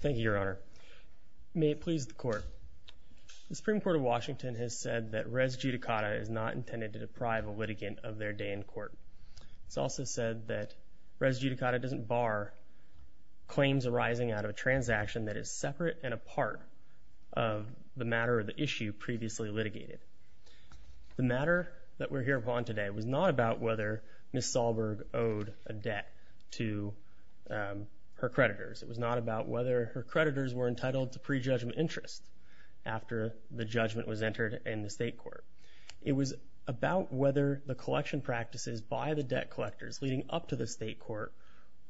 Thank you, Your Honor. May it please the Court. The Supreme Court of Washington has said that res judicata is not intended to deprive a litigant of their day in court. It's also said that res judicata doesn't bar claims arising out of a transaction that is separate and apart of the matter or the issue previously litigated. The matter that we're here upon today was not about whether Ms. Sahlberg owed a debt to her creditors. It was not about whether her creditors were entitled to prejudgment interest after the judgment was entered in the state court. It was about whether the collection practices by the debt collectors leading up to the state court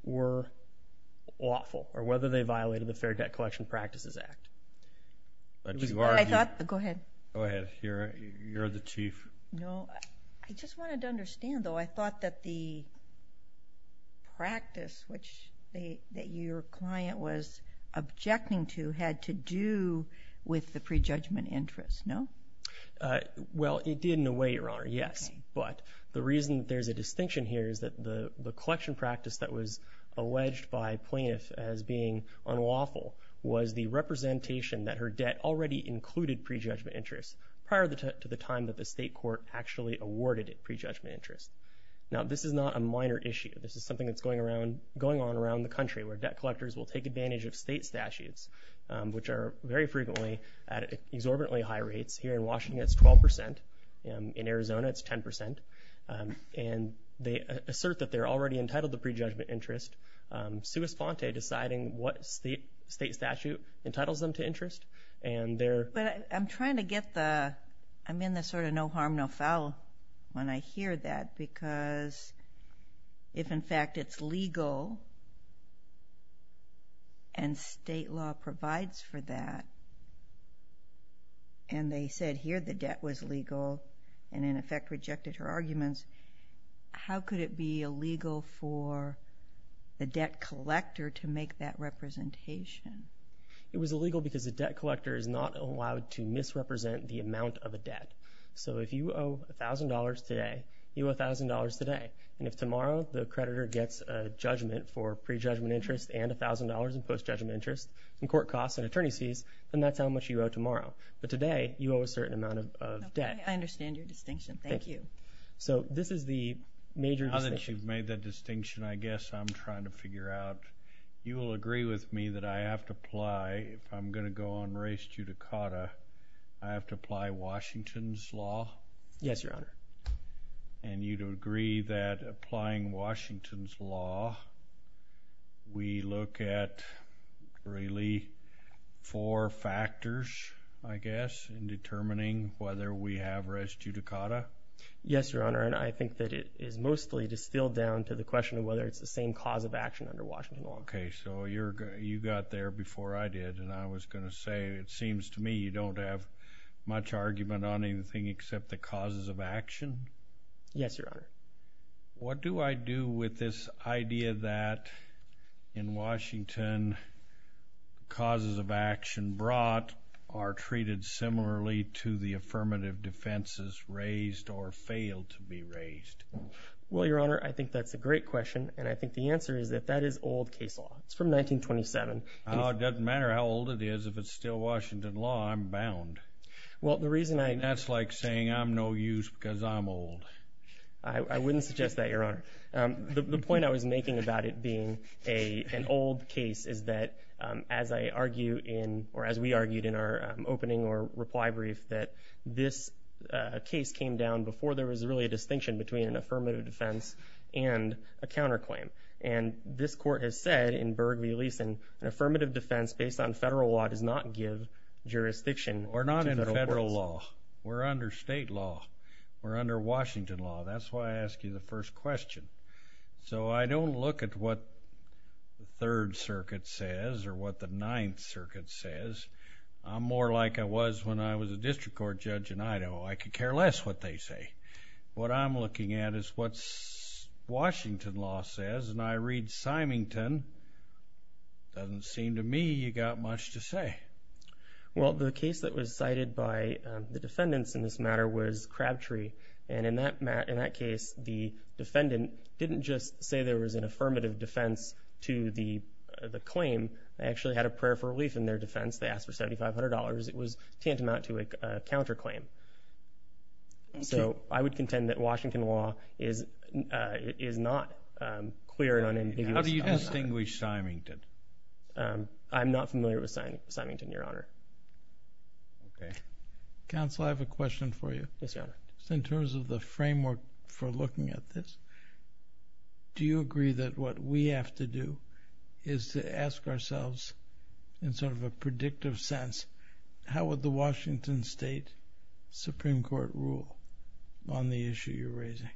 were lawful or whether they violated the Fair Debt Collection Practices Act. Go ahead. You're the chief. I just wanted to understand, though. I thought that the practice that your client was objecting to had to do with the prejudgment interest, no? Well, it did in a way, Your Honor, yes. But the reason there's a distinction here is that the collection practice that was alleged by plaintiffs as being unlawful was the representation that her debt already included prejudgment interest prior to the time that the state court actually awarded it prejudgment interest. Now, this is not a minor issue. This is something that's going on around the country where debt collectors will take advantage of state statutes, which are very frequently at exorbitantly high rates. Here in Washington, it's 12%. In Arizona, it's 10%. And they assert that they're already entitled to prejudgment interest, sua sponte deciding what state statute entitles them to interest. But I'm trying to get the – I'm in the sort of no harm, no foul when I hear that because if, in fact, it's legal and state law provides for that and they said here the debt was legal and, in effect, rejected her arguments, how could it be illegal for the debt collector to make that representation? It was illegal because the debt collector is not allowed to misrepresent the amount of a debt. So if you owe $1,000 today, you owe $1,000 today. And if tomorrow the creditor gets a judgment for prejudgment interest and $1,000 in postjudgment interest and court costs and attorney's fees, then that's how much you owe tomorrow. But today, you owe a certain amount of debt. Okay. I understand your distinction. Thank you. So this is the major distinction. Now that you've made that distinction, I guess I'm trying to figure out. You will agree with me that I have to apply – if I'm going to go on res judicata, I have to apply Washington's law? Yes, Your Honor. And you'd agree that applying Washington's law, we look at really four factors, I guess, in determining whether we have res judicata? Yes, Your Honor. And I think that it is mostly distilled down to the question of whether it's the same cause of action under Washington law. Okay. So you got there before I did, and I was going to say it seems to me you don't have much argument on anything except the causes of action? Yes, Your Honor. What do I do with this idea that in Washington, causes of action brought are treated similarly to the affirmative defenses raised or failed to be raised? Well, Your Honor, I think that's a great question, and I think the answer is that that is old case law. It's from 1927. Well, it doesn't matter how old it is. If it's still Washington law, I'm bound. Well, the reason I – That's like saying I'm no use because I'm old. I wouldn't suggest that, Your Honor. The point I was making about it being an old case is that, as I argue in – or as we argued in our opening or reply brief, that this case came down before there was really a distinction between an affirmative defense and a counterclaim. And this Court has said in Berg v. Leeson, an affirmative defense based on federal law does not give jurisdiction to the courts. We're not under federal law. We're under state law. We're under Washington law. That's why I asked you the first question. So I don't look at what the Third Circuit says or what the Ninth Circuit says. I'm more like I was when I was a district court judge in Idaho. I could care less what they say. What I'm looking at is what Washington law says, and I read Symington. Doesn't seem to me you got much to say. Well, the case that was cited by the defendants in this matter was Crabtree, and in that case the defendant didn't just say there was an affirmative defense to the claim. They actually had a prayer for relief in their defense. They asked for $7,500. It was tantamount to a counterclaim. So I would contend that Washington law is not clear and unambiguous about that. How do you distinguish Symington? I'm not familiar with Symington, Your Honor. Counsel, I have a question for you. Yes, Your Honor. In terms of the framework for looking at this, do you agree that what we have to do is to ask ourselves in sort of a predictive sense, how would the Washington State Supreme Court rule on the issue you're raising?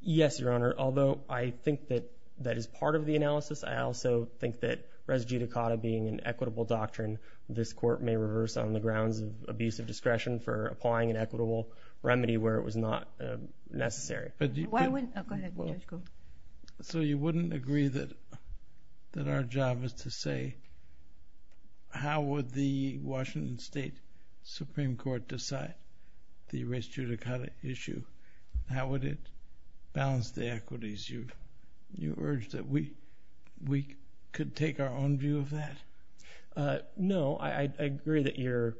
Yes, Your Honor. Although I think that that is part of the analysis, I also think that res judicata being an equitable doctrine, this court may reverse on the grounds of abusive discretion for applying an equitable remedy where it was not necessary. Go ahead. So you wouldn't agree that our job is to say, how would the Washington State Supreme Court decide the res judicata issue? How would it balance the equities? You urge that we could take our own view of that? No. I agree that your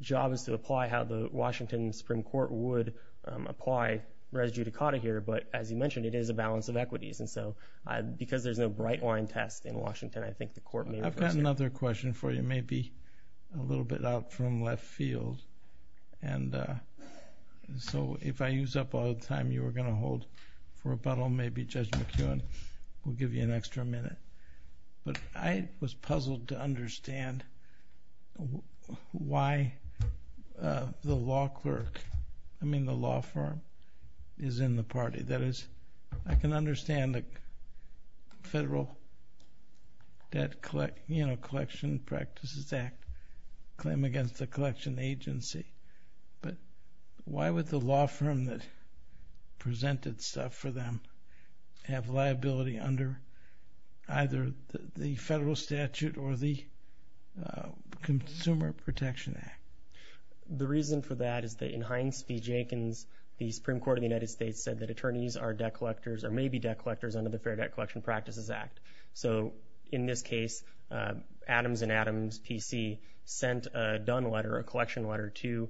job is to apply how the Washington Supreme Court would apply res judicata here. But as you mentioned, it is a balance of equities. And so because there's no bright line test in Washington, I think the court may reverse that. I've got another question for you, maybe a little bit out from left field. And so if I use up all the time you were going to hold for rebuttal, maybe Judge McKeown will give you an extra minute. But I was puzzled to understand why the law firm is in the party. That is, I can understand the Federal Debt Collection Practices Act claim against the collection agency. But why would the law firm that presented stuff for them have liability under either the federal statute or the Consumer Protection Act? The reason for that is that in Hines v. Jenkins, the Supreme Court of the United States said that attorneys are debt collectors or may be debt collectors under the Fair Debt Collection Practices Act. So in this case, Adams & Adams PC sent a done letter, a collection letter, to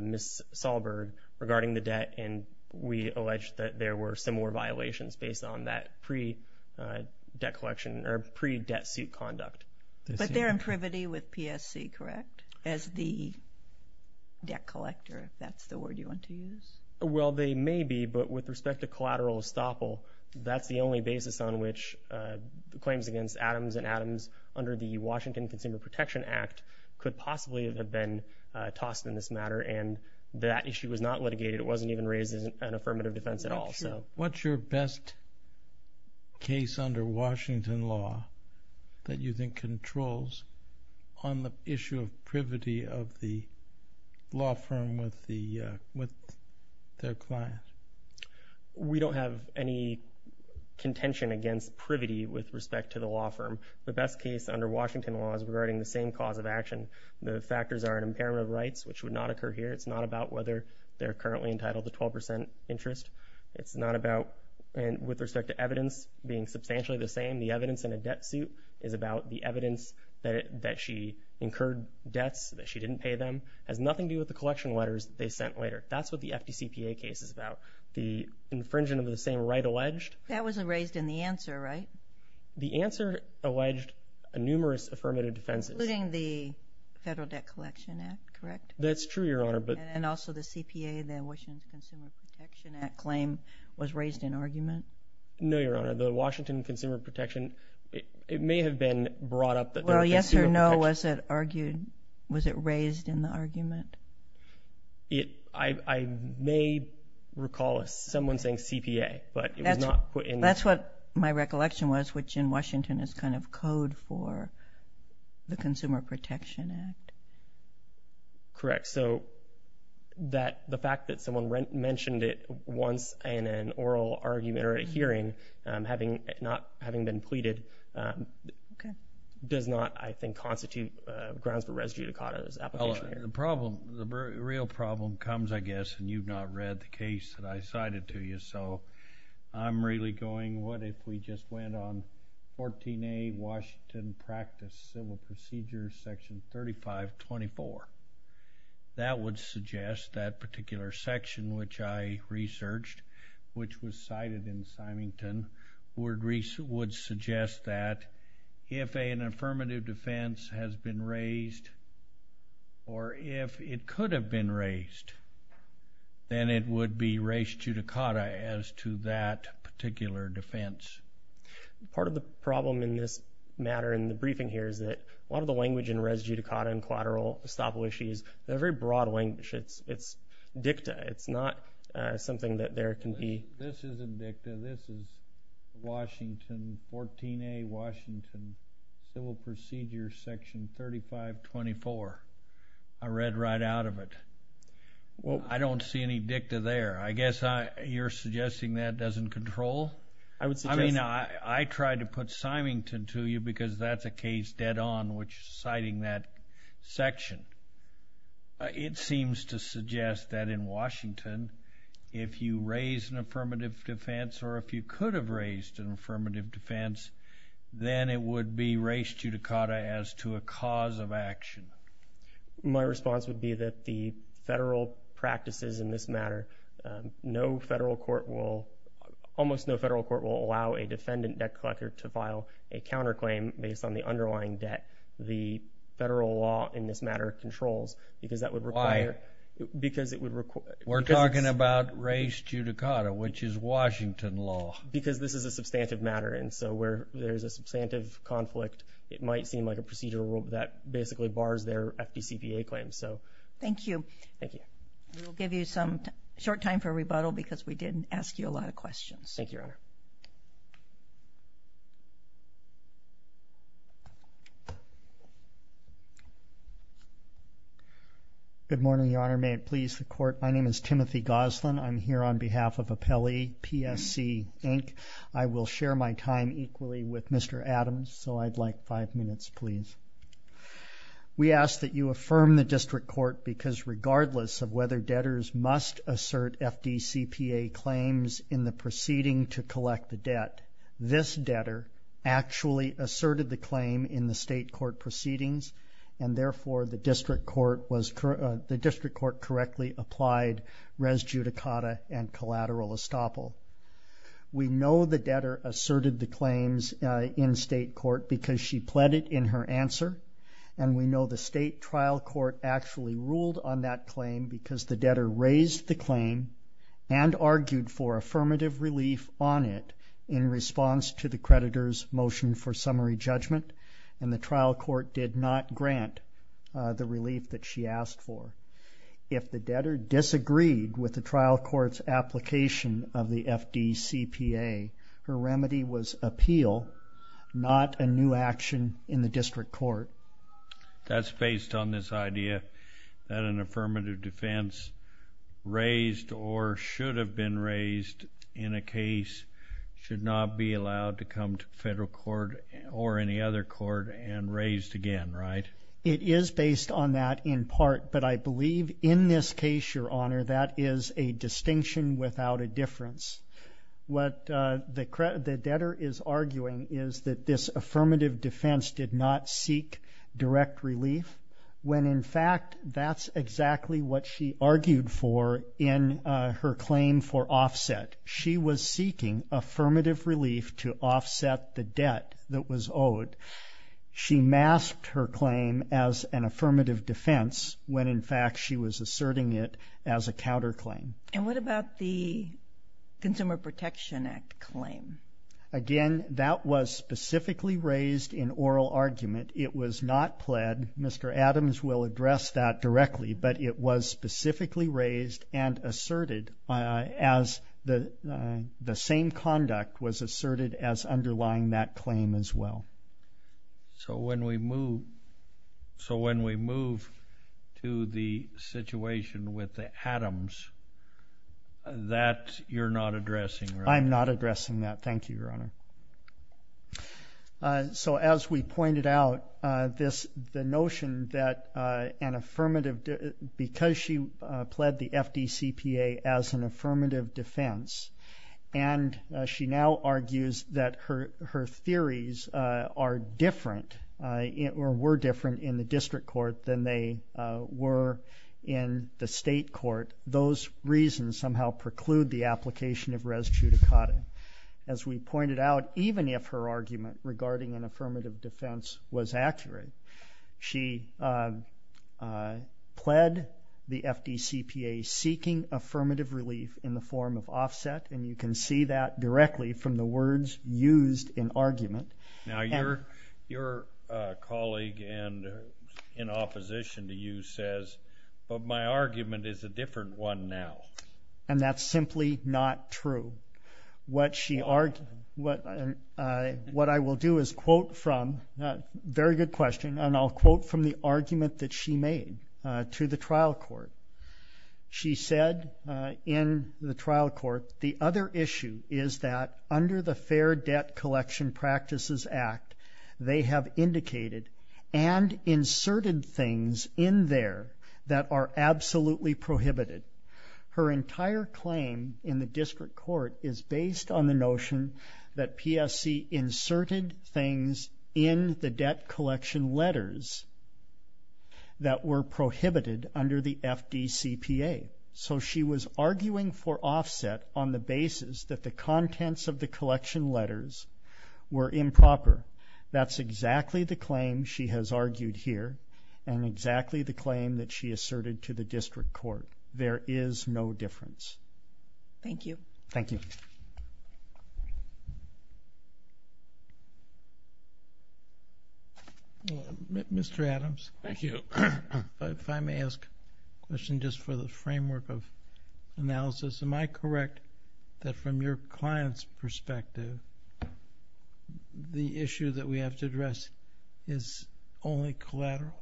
Ms. Sahlberg regarding the debt. And we alleged that there were similar violations based on that pre-debt collection or pre-debt suit conduct. But they're in privity with PSC, correct, as the debt collector, if that's the word you want to use? Well, they may be. But with respect to collateral estoppel, that's the only basis on which claims against Adams & Adams under the Washington Consumer Protection Act could possibly have been tossed in this matter. And that issue was not litigated. It wasn't even raised as an affirmative defense at all. What's your best case under Washington law that you think controls on the issue of privity of the law firm with their clients? We don't have any contention against privity with respect to the law firm. The best case under Washington law is regarding the same cause of action. The factors are an impairment of rights, which would not occur here. It's not about whether they're currently entitled to 12% interest. It's not about, with respect to evidence being substantially the same, the evidence in a debt suit is about the evidence that she incurred debts, that she didn't pay them. It has nothing to do with the collection letters they sent later. That's what the FDCPA case is about. The infringement of the same right alleged. That was raised in the answer, right? The answer alleged numerous affirmative defenses. Including the Federal Debt Collection Act, correct? That's true, Your Honor. And also the CPA, the Washington Consumer Protection Act claim was raised in argument? No, Your Honor. The Washington Consumer Protection, it may have been brought up. Well, yes or no, was it raised in the argument? I may recall someone saying CPA, but it was not put in. That's what my recollection was, which in Washington is kind of code for the Consumer Protection Act. Correct. So the fact that someone mentioned it once in an oral argument or a hearing, not having been pleaded, does not, I think, constitute grounds for res judicata. The problem, the real problem comes, I guess, and you've not read the case that I cited to you. So I'm really going, what if we just went on 14A, Washington Practice Civil Procedure, Section 3524? That would suggest that particular section, which I researched, which was cited in Symington, would suggest that if an affirmative defense has been raised or if it could have been raised, then it would be res judicata as to that particular defense. Part of the problem in this matter in the briefing here is that a lot of the language in res judicata and collateral estoppel issues, they're very broad language. It's dicta. It's not something that there can be. This isn't dicta. This is Washington, 14A, Washington Civil Procedure, Section 3524. I read right out of it. I don't see any dicta there. I guess you're suggesting that doesn't control? I mean, I tried to put Symington to you because that's a case dead on which is citing that section. It seems to suggest that in Washington, if you raise an affirmative defense or if you could have raised an affirmative defense, then it would be res judicata as to a cause of action. My response would be that the federal practices in this matter, almost no federal court will allow a defendant debt collector to file a counterclaim based on the underlying debt the federal law in this matter controls. Why? We're talking about res judicata, which is Washington law. Because this is a substantive matter, and so where there's a substantive conflict, it might seem like a procedural rule that basically bars their FDCPA claims. Thank you. Thank you. We'll give you some short time for rebuttal because we did ask you a lot of questions. Thank you, Your Honor. Good morning, Your Honor. May it please the Court. My name is Timothy Goslin. I'm here on behalf of Appellee PSC, Inc. I will share my time equally with Mr. Adams, so I'd like five minutes, please. We ask that you affirm the district court because regardless of whether debtors must assert FDCPA claims in the proceeding to collect the debt, this debtor actually asserted the claim in the state court proceedings, and therefore the district court correctly applied res judicata and collateral estoppel. We know the debtor asserted the claims in state court because she pled it in her answer, and we know the state trial court actually ruled on that claim because the debtor raised the claim and argued for affirmative relief on it in response to the creditor's motion for summary judgment, and the trial court did not grant the relief that she asked for. If the debtor disagreed with the trial court's application of the FDCPA, her remedy was appeal, not a new action in the district court. That's based on this idea that an affirmative defense raised or should have been raised in a case should not be allowed to come to federal court or any other court and raised again, right? It is based on that in part, but I believe in this case, Your Honor, that is a distinction without a difference. What the debtor is arguing is that this affirmative defense did not seek direct relief when, in fact, that's exactly what she argued for in her claim for offset. She was seeking affirmative relief to offset the debt that was owed. She masked her claim as an affirmative defense when, in fact, she was asserting it as a counterclaim. And what about the Consumer Protection Act claim? Again, that was specifically raised in oral argument. It was not pled. Mr. Adams will address that directly, but it was specifically raised and asserted as the same conduct was asserted as underlying that claim as well. So when we move to the situation with the Adams, that you're not addressing, right? I'm not addressing that. Thank you, Your Honor. So as we pointed out, the notion that because she pled the FDCPA as an affirmative defense and she now argues that her theories are different or were different in the district court than they were in the state court, those reasons somehow preclude the application of res judicata. As we pointed out, even if her argument regarding an affirmative defense was accurate, she pled the FDCPA seeking affirmative relief in the form of offset, and you can see that directly from the words used in argument. Now, your colleague in opposition to you says, but my argument is a different one now. And that's simply not true. What I will do is quote from a very good question, and I'll quote from the argument that she made to the trial court. She said in the trial court, the other issue is that under the Fair Debt Collection Practices Act, they have indicated and inserted things in there that are absolutely prohibited. Her entire claim in the district court is based on the notion that PSC inserted things in the debt collection letters that were prohibited under the FDCPA. So she was arguing for offset on the basis that the contents of the collection letters were improper. That's exactly the claim she has argued here and exactly the claim that she asserted to the district court. There is no difference. Thank you. Thank you. Mr. Adams. Thank you. If I may ask a question just for the framework of analysis, am I correct that from your client's perspective, the issue that we have to address is only collateral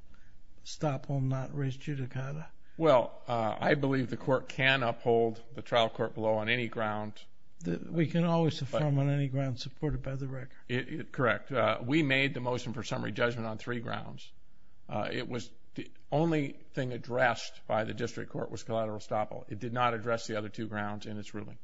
estoppel, not res judicata? Well, I believe the court can uphold the trial court below on any ground. We can always affirm on any ground supported by the record. Correct. We made the motion for summary judgment on three grounds. The only thing addressed by the district court was collateral estoppel. It did not address the other two grounds in its ruling.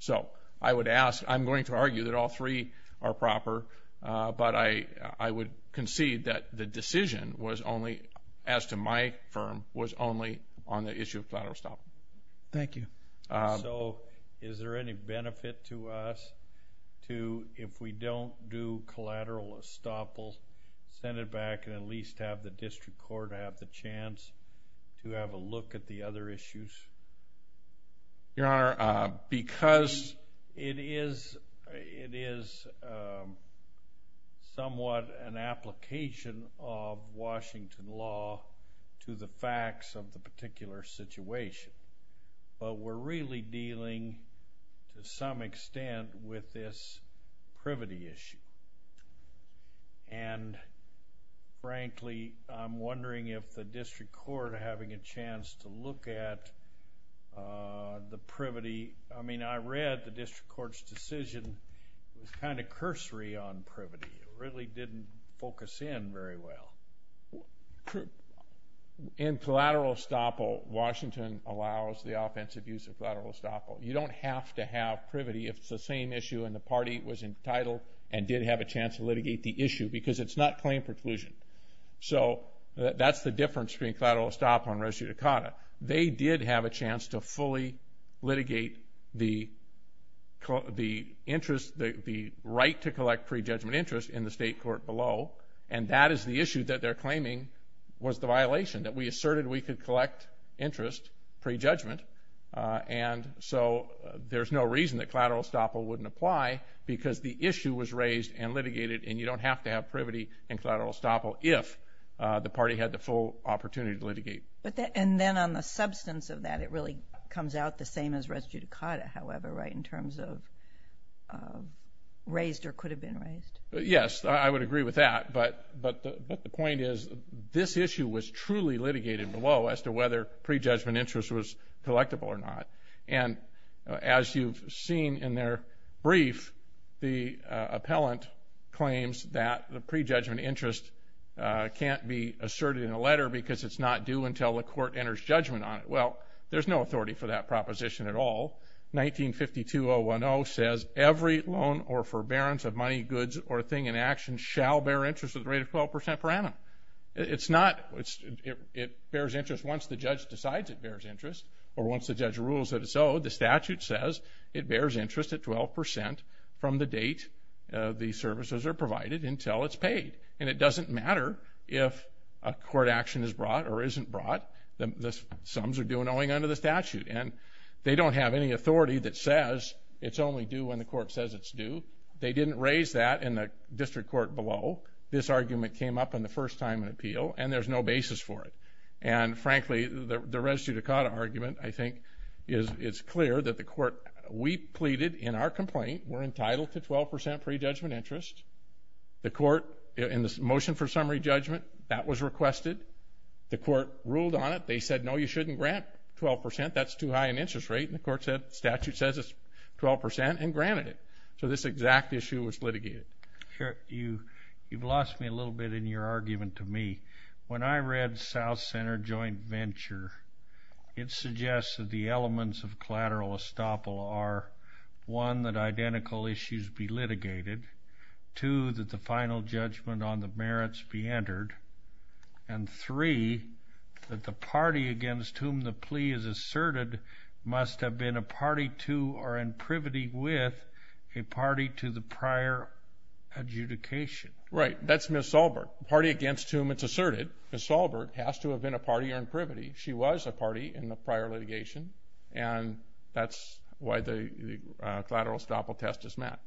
So I would ask, I'm going to argue that all three are proper, but I would concede that the decision was only, as to my firm, was only on the issue of collateral estoppel. Thank you. So is there any benefit to us to, if we don't do collateral estoppel, send it back and at least have the district court have the chance to have a look at the other issues? Your Honor, because it is somewhat an application of Washington law to the facts of the particular situation, but we're really dealing, to some extent, with this privity issue. And, frankly, I'm wondering if the district court having a chance to look at the privity, I mean, I read the district court's decision was kind of cursory on privity. It really didn't focus in very well. In collateral estoppel, Washington allows the offensive use of collateral estoppel. You don't have to have privity if it's the same issue and the party was entitled and did have a chance to litigate the issue because it's not claim preclusion. So that's the difference between collateral estoppel and res judicata. They did have a chance to fully litigate the interest, the right to collect pre-judgment interest in the state court below, and that is the issue that they're claiming was the violation, that we asserted we could collect interest pre-judgment, and so there's no reason that collateral estoppel wouldn't apply because the issue was raised and litigated, and you don't have to have privity in collateral estoppel if the party had the full opportunity to litigate. And then on the substance of that, it really comes out the same as res judicata, however, right, in terms of raised or could have been raised? Yes, I would agree with that, but the point is this issue was truly litigated below as to whether pre-judgment interest was collectible or not, and as you've seen in their brief, the appellant claims that the pre-judgment interest can't be asserted in a letter because it's not due until the court enters judgment on it. Well, there's no authority for that proposition at all. 1952.010 says, Every loan or forbearance of money, goods, or thing in action shall bear interest at the rate of 12% per annum. It's not. It bears interest once the judge decides it bears interest or once the judge rules that it's owed. The statute says it bears interest at 12% from the date the services are provided until it's paid, and it doesn't matter if a court action is brought or isn't brought. The sums are due and owing under the statute, and they don't have any authority that says it's only due when the court says it's due. They didn't raise that in the district court below. This argument came up in the first time in appeal, and there's no basis for it. And frankly, the res judicata argument, I think, is it's clear that the court we pleaded in our complaint were entitled to 12% pre-judgment interest. The court in the motion for summary judgment, that was requested. The court ruled on it. They said, No, you shouldn't grant 12%. That's too high an interest rate. And the court said the statute says it's 12% and granted it. So this exact issue was litigated. You've lost me a little bit in your argument to me. When I read South Center Joint Venture, it suggests that the elements of collateral estoppel are, one, that identical issues be litigated, two, that the final judgment on the merits be entered, and three, that the party against whom the plea is asserted must have been a party to or in privity with a party to the prior adjudication. Right. That's Ms. Solbert. The party against whom it's asserted, Ms. Solbert, has to have been a party or in privity. She was a party in the prior litigation, and that's why the collateral estoppel test is met.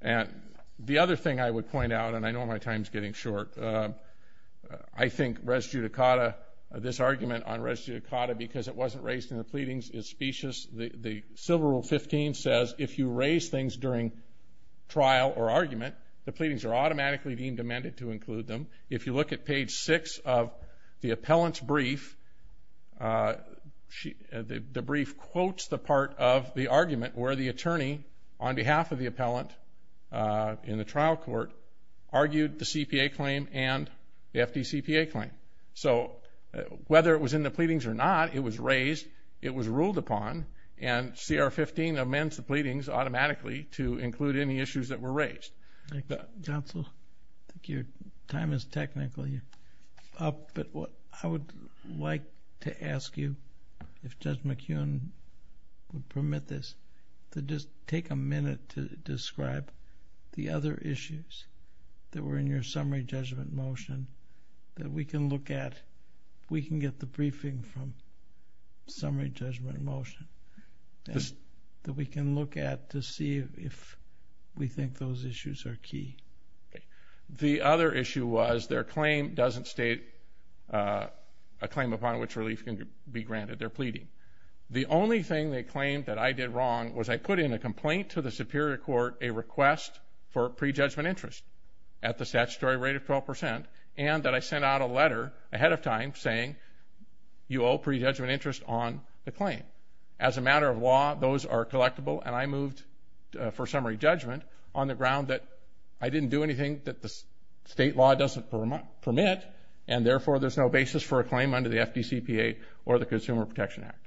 And the other thing I would point out, and I know my time is getting short, I think res judicata, this argument on res judicata, because it wasn't raised in the pleadings, is specious. The Civil Rule 15 says if you raise things during trial or argument, the pleadings are automatically deemed amended to include them. The brief quotes the part of the argument where the attorney, on behalf of the appellant in the trial court, argued the CPA claim and the FDCPA claim. So whether it was in the pleadings or not, it was raised, it was ruled upon, and CR 15 amends the pleadings automatically to include any issues that were raised. Counsel, I think your time is technically up, but I would like to ask you, if Judge McHugh would permit this, to just take a minute to describe the other issues that were in your summary judgment motion that we can look at. We can get the briefing from summary judgment motion that we can look at to see if we think those issues are key. The other issue was their claim doesn't state a claim upon which relief can be granted. They're pleading. The only thing they claimed that I did wrong was I put in a complaint to the Superior Court a request for prejudgment interest at the statutory rate of 12 percent, and that I sent out a letter ahead of time saying, you owe prejudgment interest on the claim. As a matter of law, those are collectible, and I moved for summary judgment on the ground that I didn't do anything that the state law doesn't permit, and therefore there's no basis for a claim under the FDCPA or the Consumer Protection Act.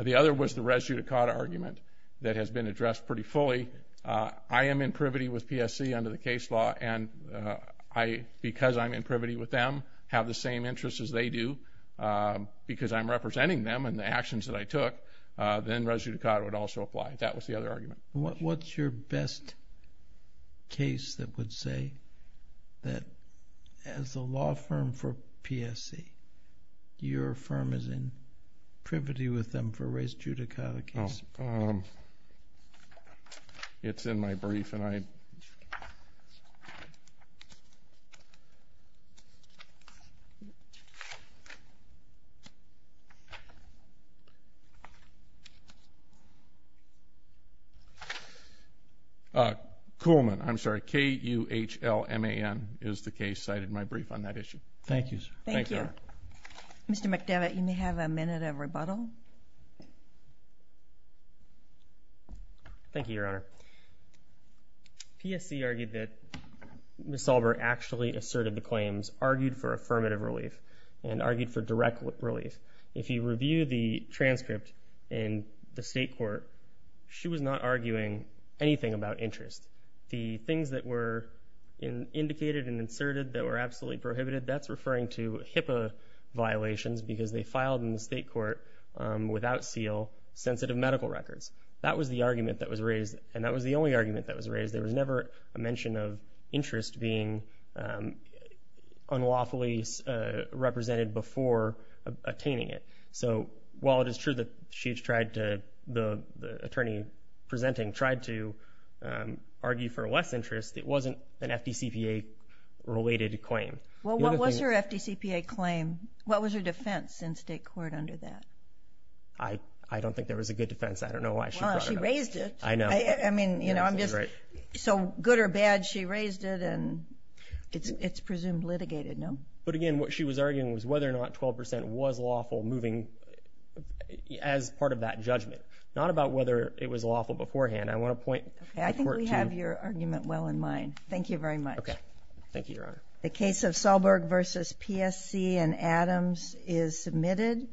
The other was the res judicata argument that has been addressed pretty fully. I am in privity with PSC under the case law, and because I'm in privity with them, have the same interests as they do, because I'm representing them in the actions that I took, then res judicata would also apply. That was the other argument. What's your best case that would say that as a law firm for PSC, your firm is in privity with them for res judicata case? It's in my brief. Kuhlman, I'm sorry, K-U-H-L-M-A-N is the case cited in my brief on that issue. Thank you, sir. Thank you. Mr. McDevitt, you may have a minute of rebuttal. Thank you, Your Honor. PSC argued that Ms. Sauber actually asserted the claims, argued for affirmative relief, and argued for direct relief. If you review the transcript in the state court, she was not arguing anything about interest. The things that were indicated and inserted that were absolutely prohibited, that's referring to HIPAA violations because they filed in the state court without seal, sensitive medical records. That was the argument that was raised, and that was the only argument that was raised. There was never a mention of interest being unlawfully represented before attaining it. So while it is true that the attorney presenting tried to argue for less interest, it wasn't an FDCPA-related claim. Well, what was her FDCPA claim? What was her defense in state court under that? I don't think there was a good defense. I don't know why she brought it up. Well, she raised it. I know. I mean, you know, so good or bad, she raised it, and it's presumed litigated, no? But again, what she was arguing was whether or not 12% was lawful moving as part of that judgment, not about whether it was lawful beforehand. I want to point to work to you. Okay. I think we have your argument well in mind. Thank you very much. Okay. Thank you, Your Honor. The case of Sahlberg v. PSC and Adams is submitted.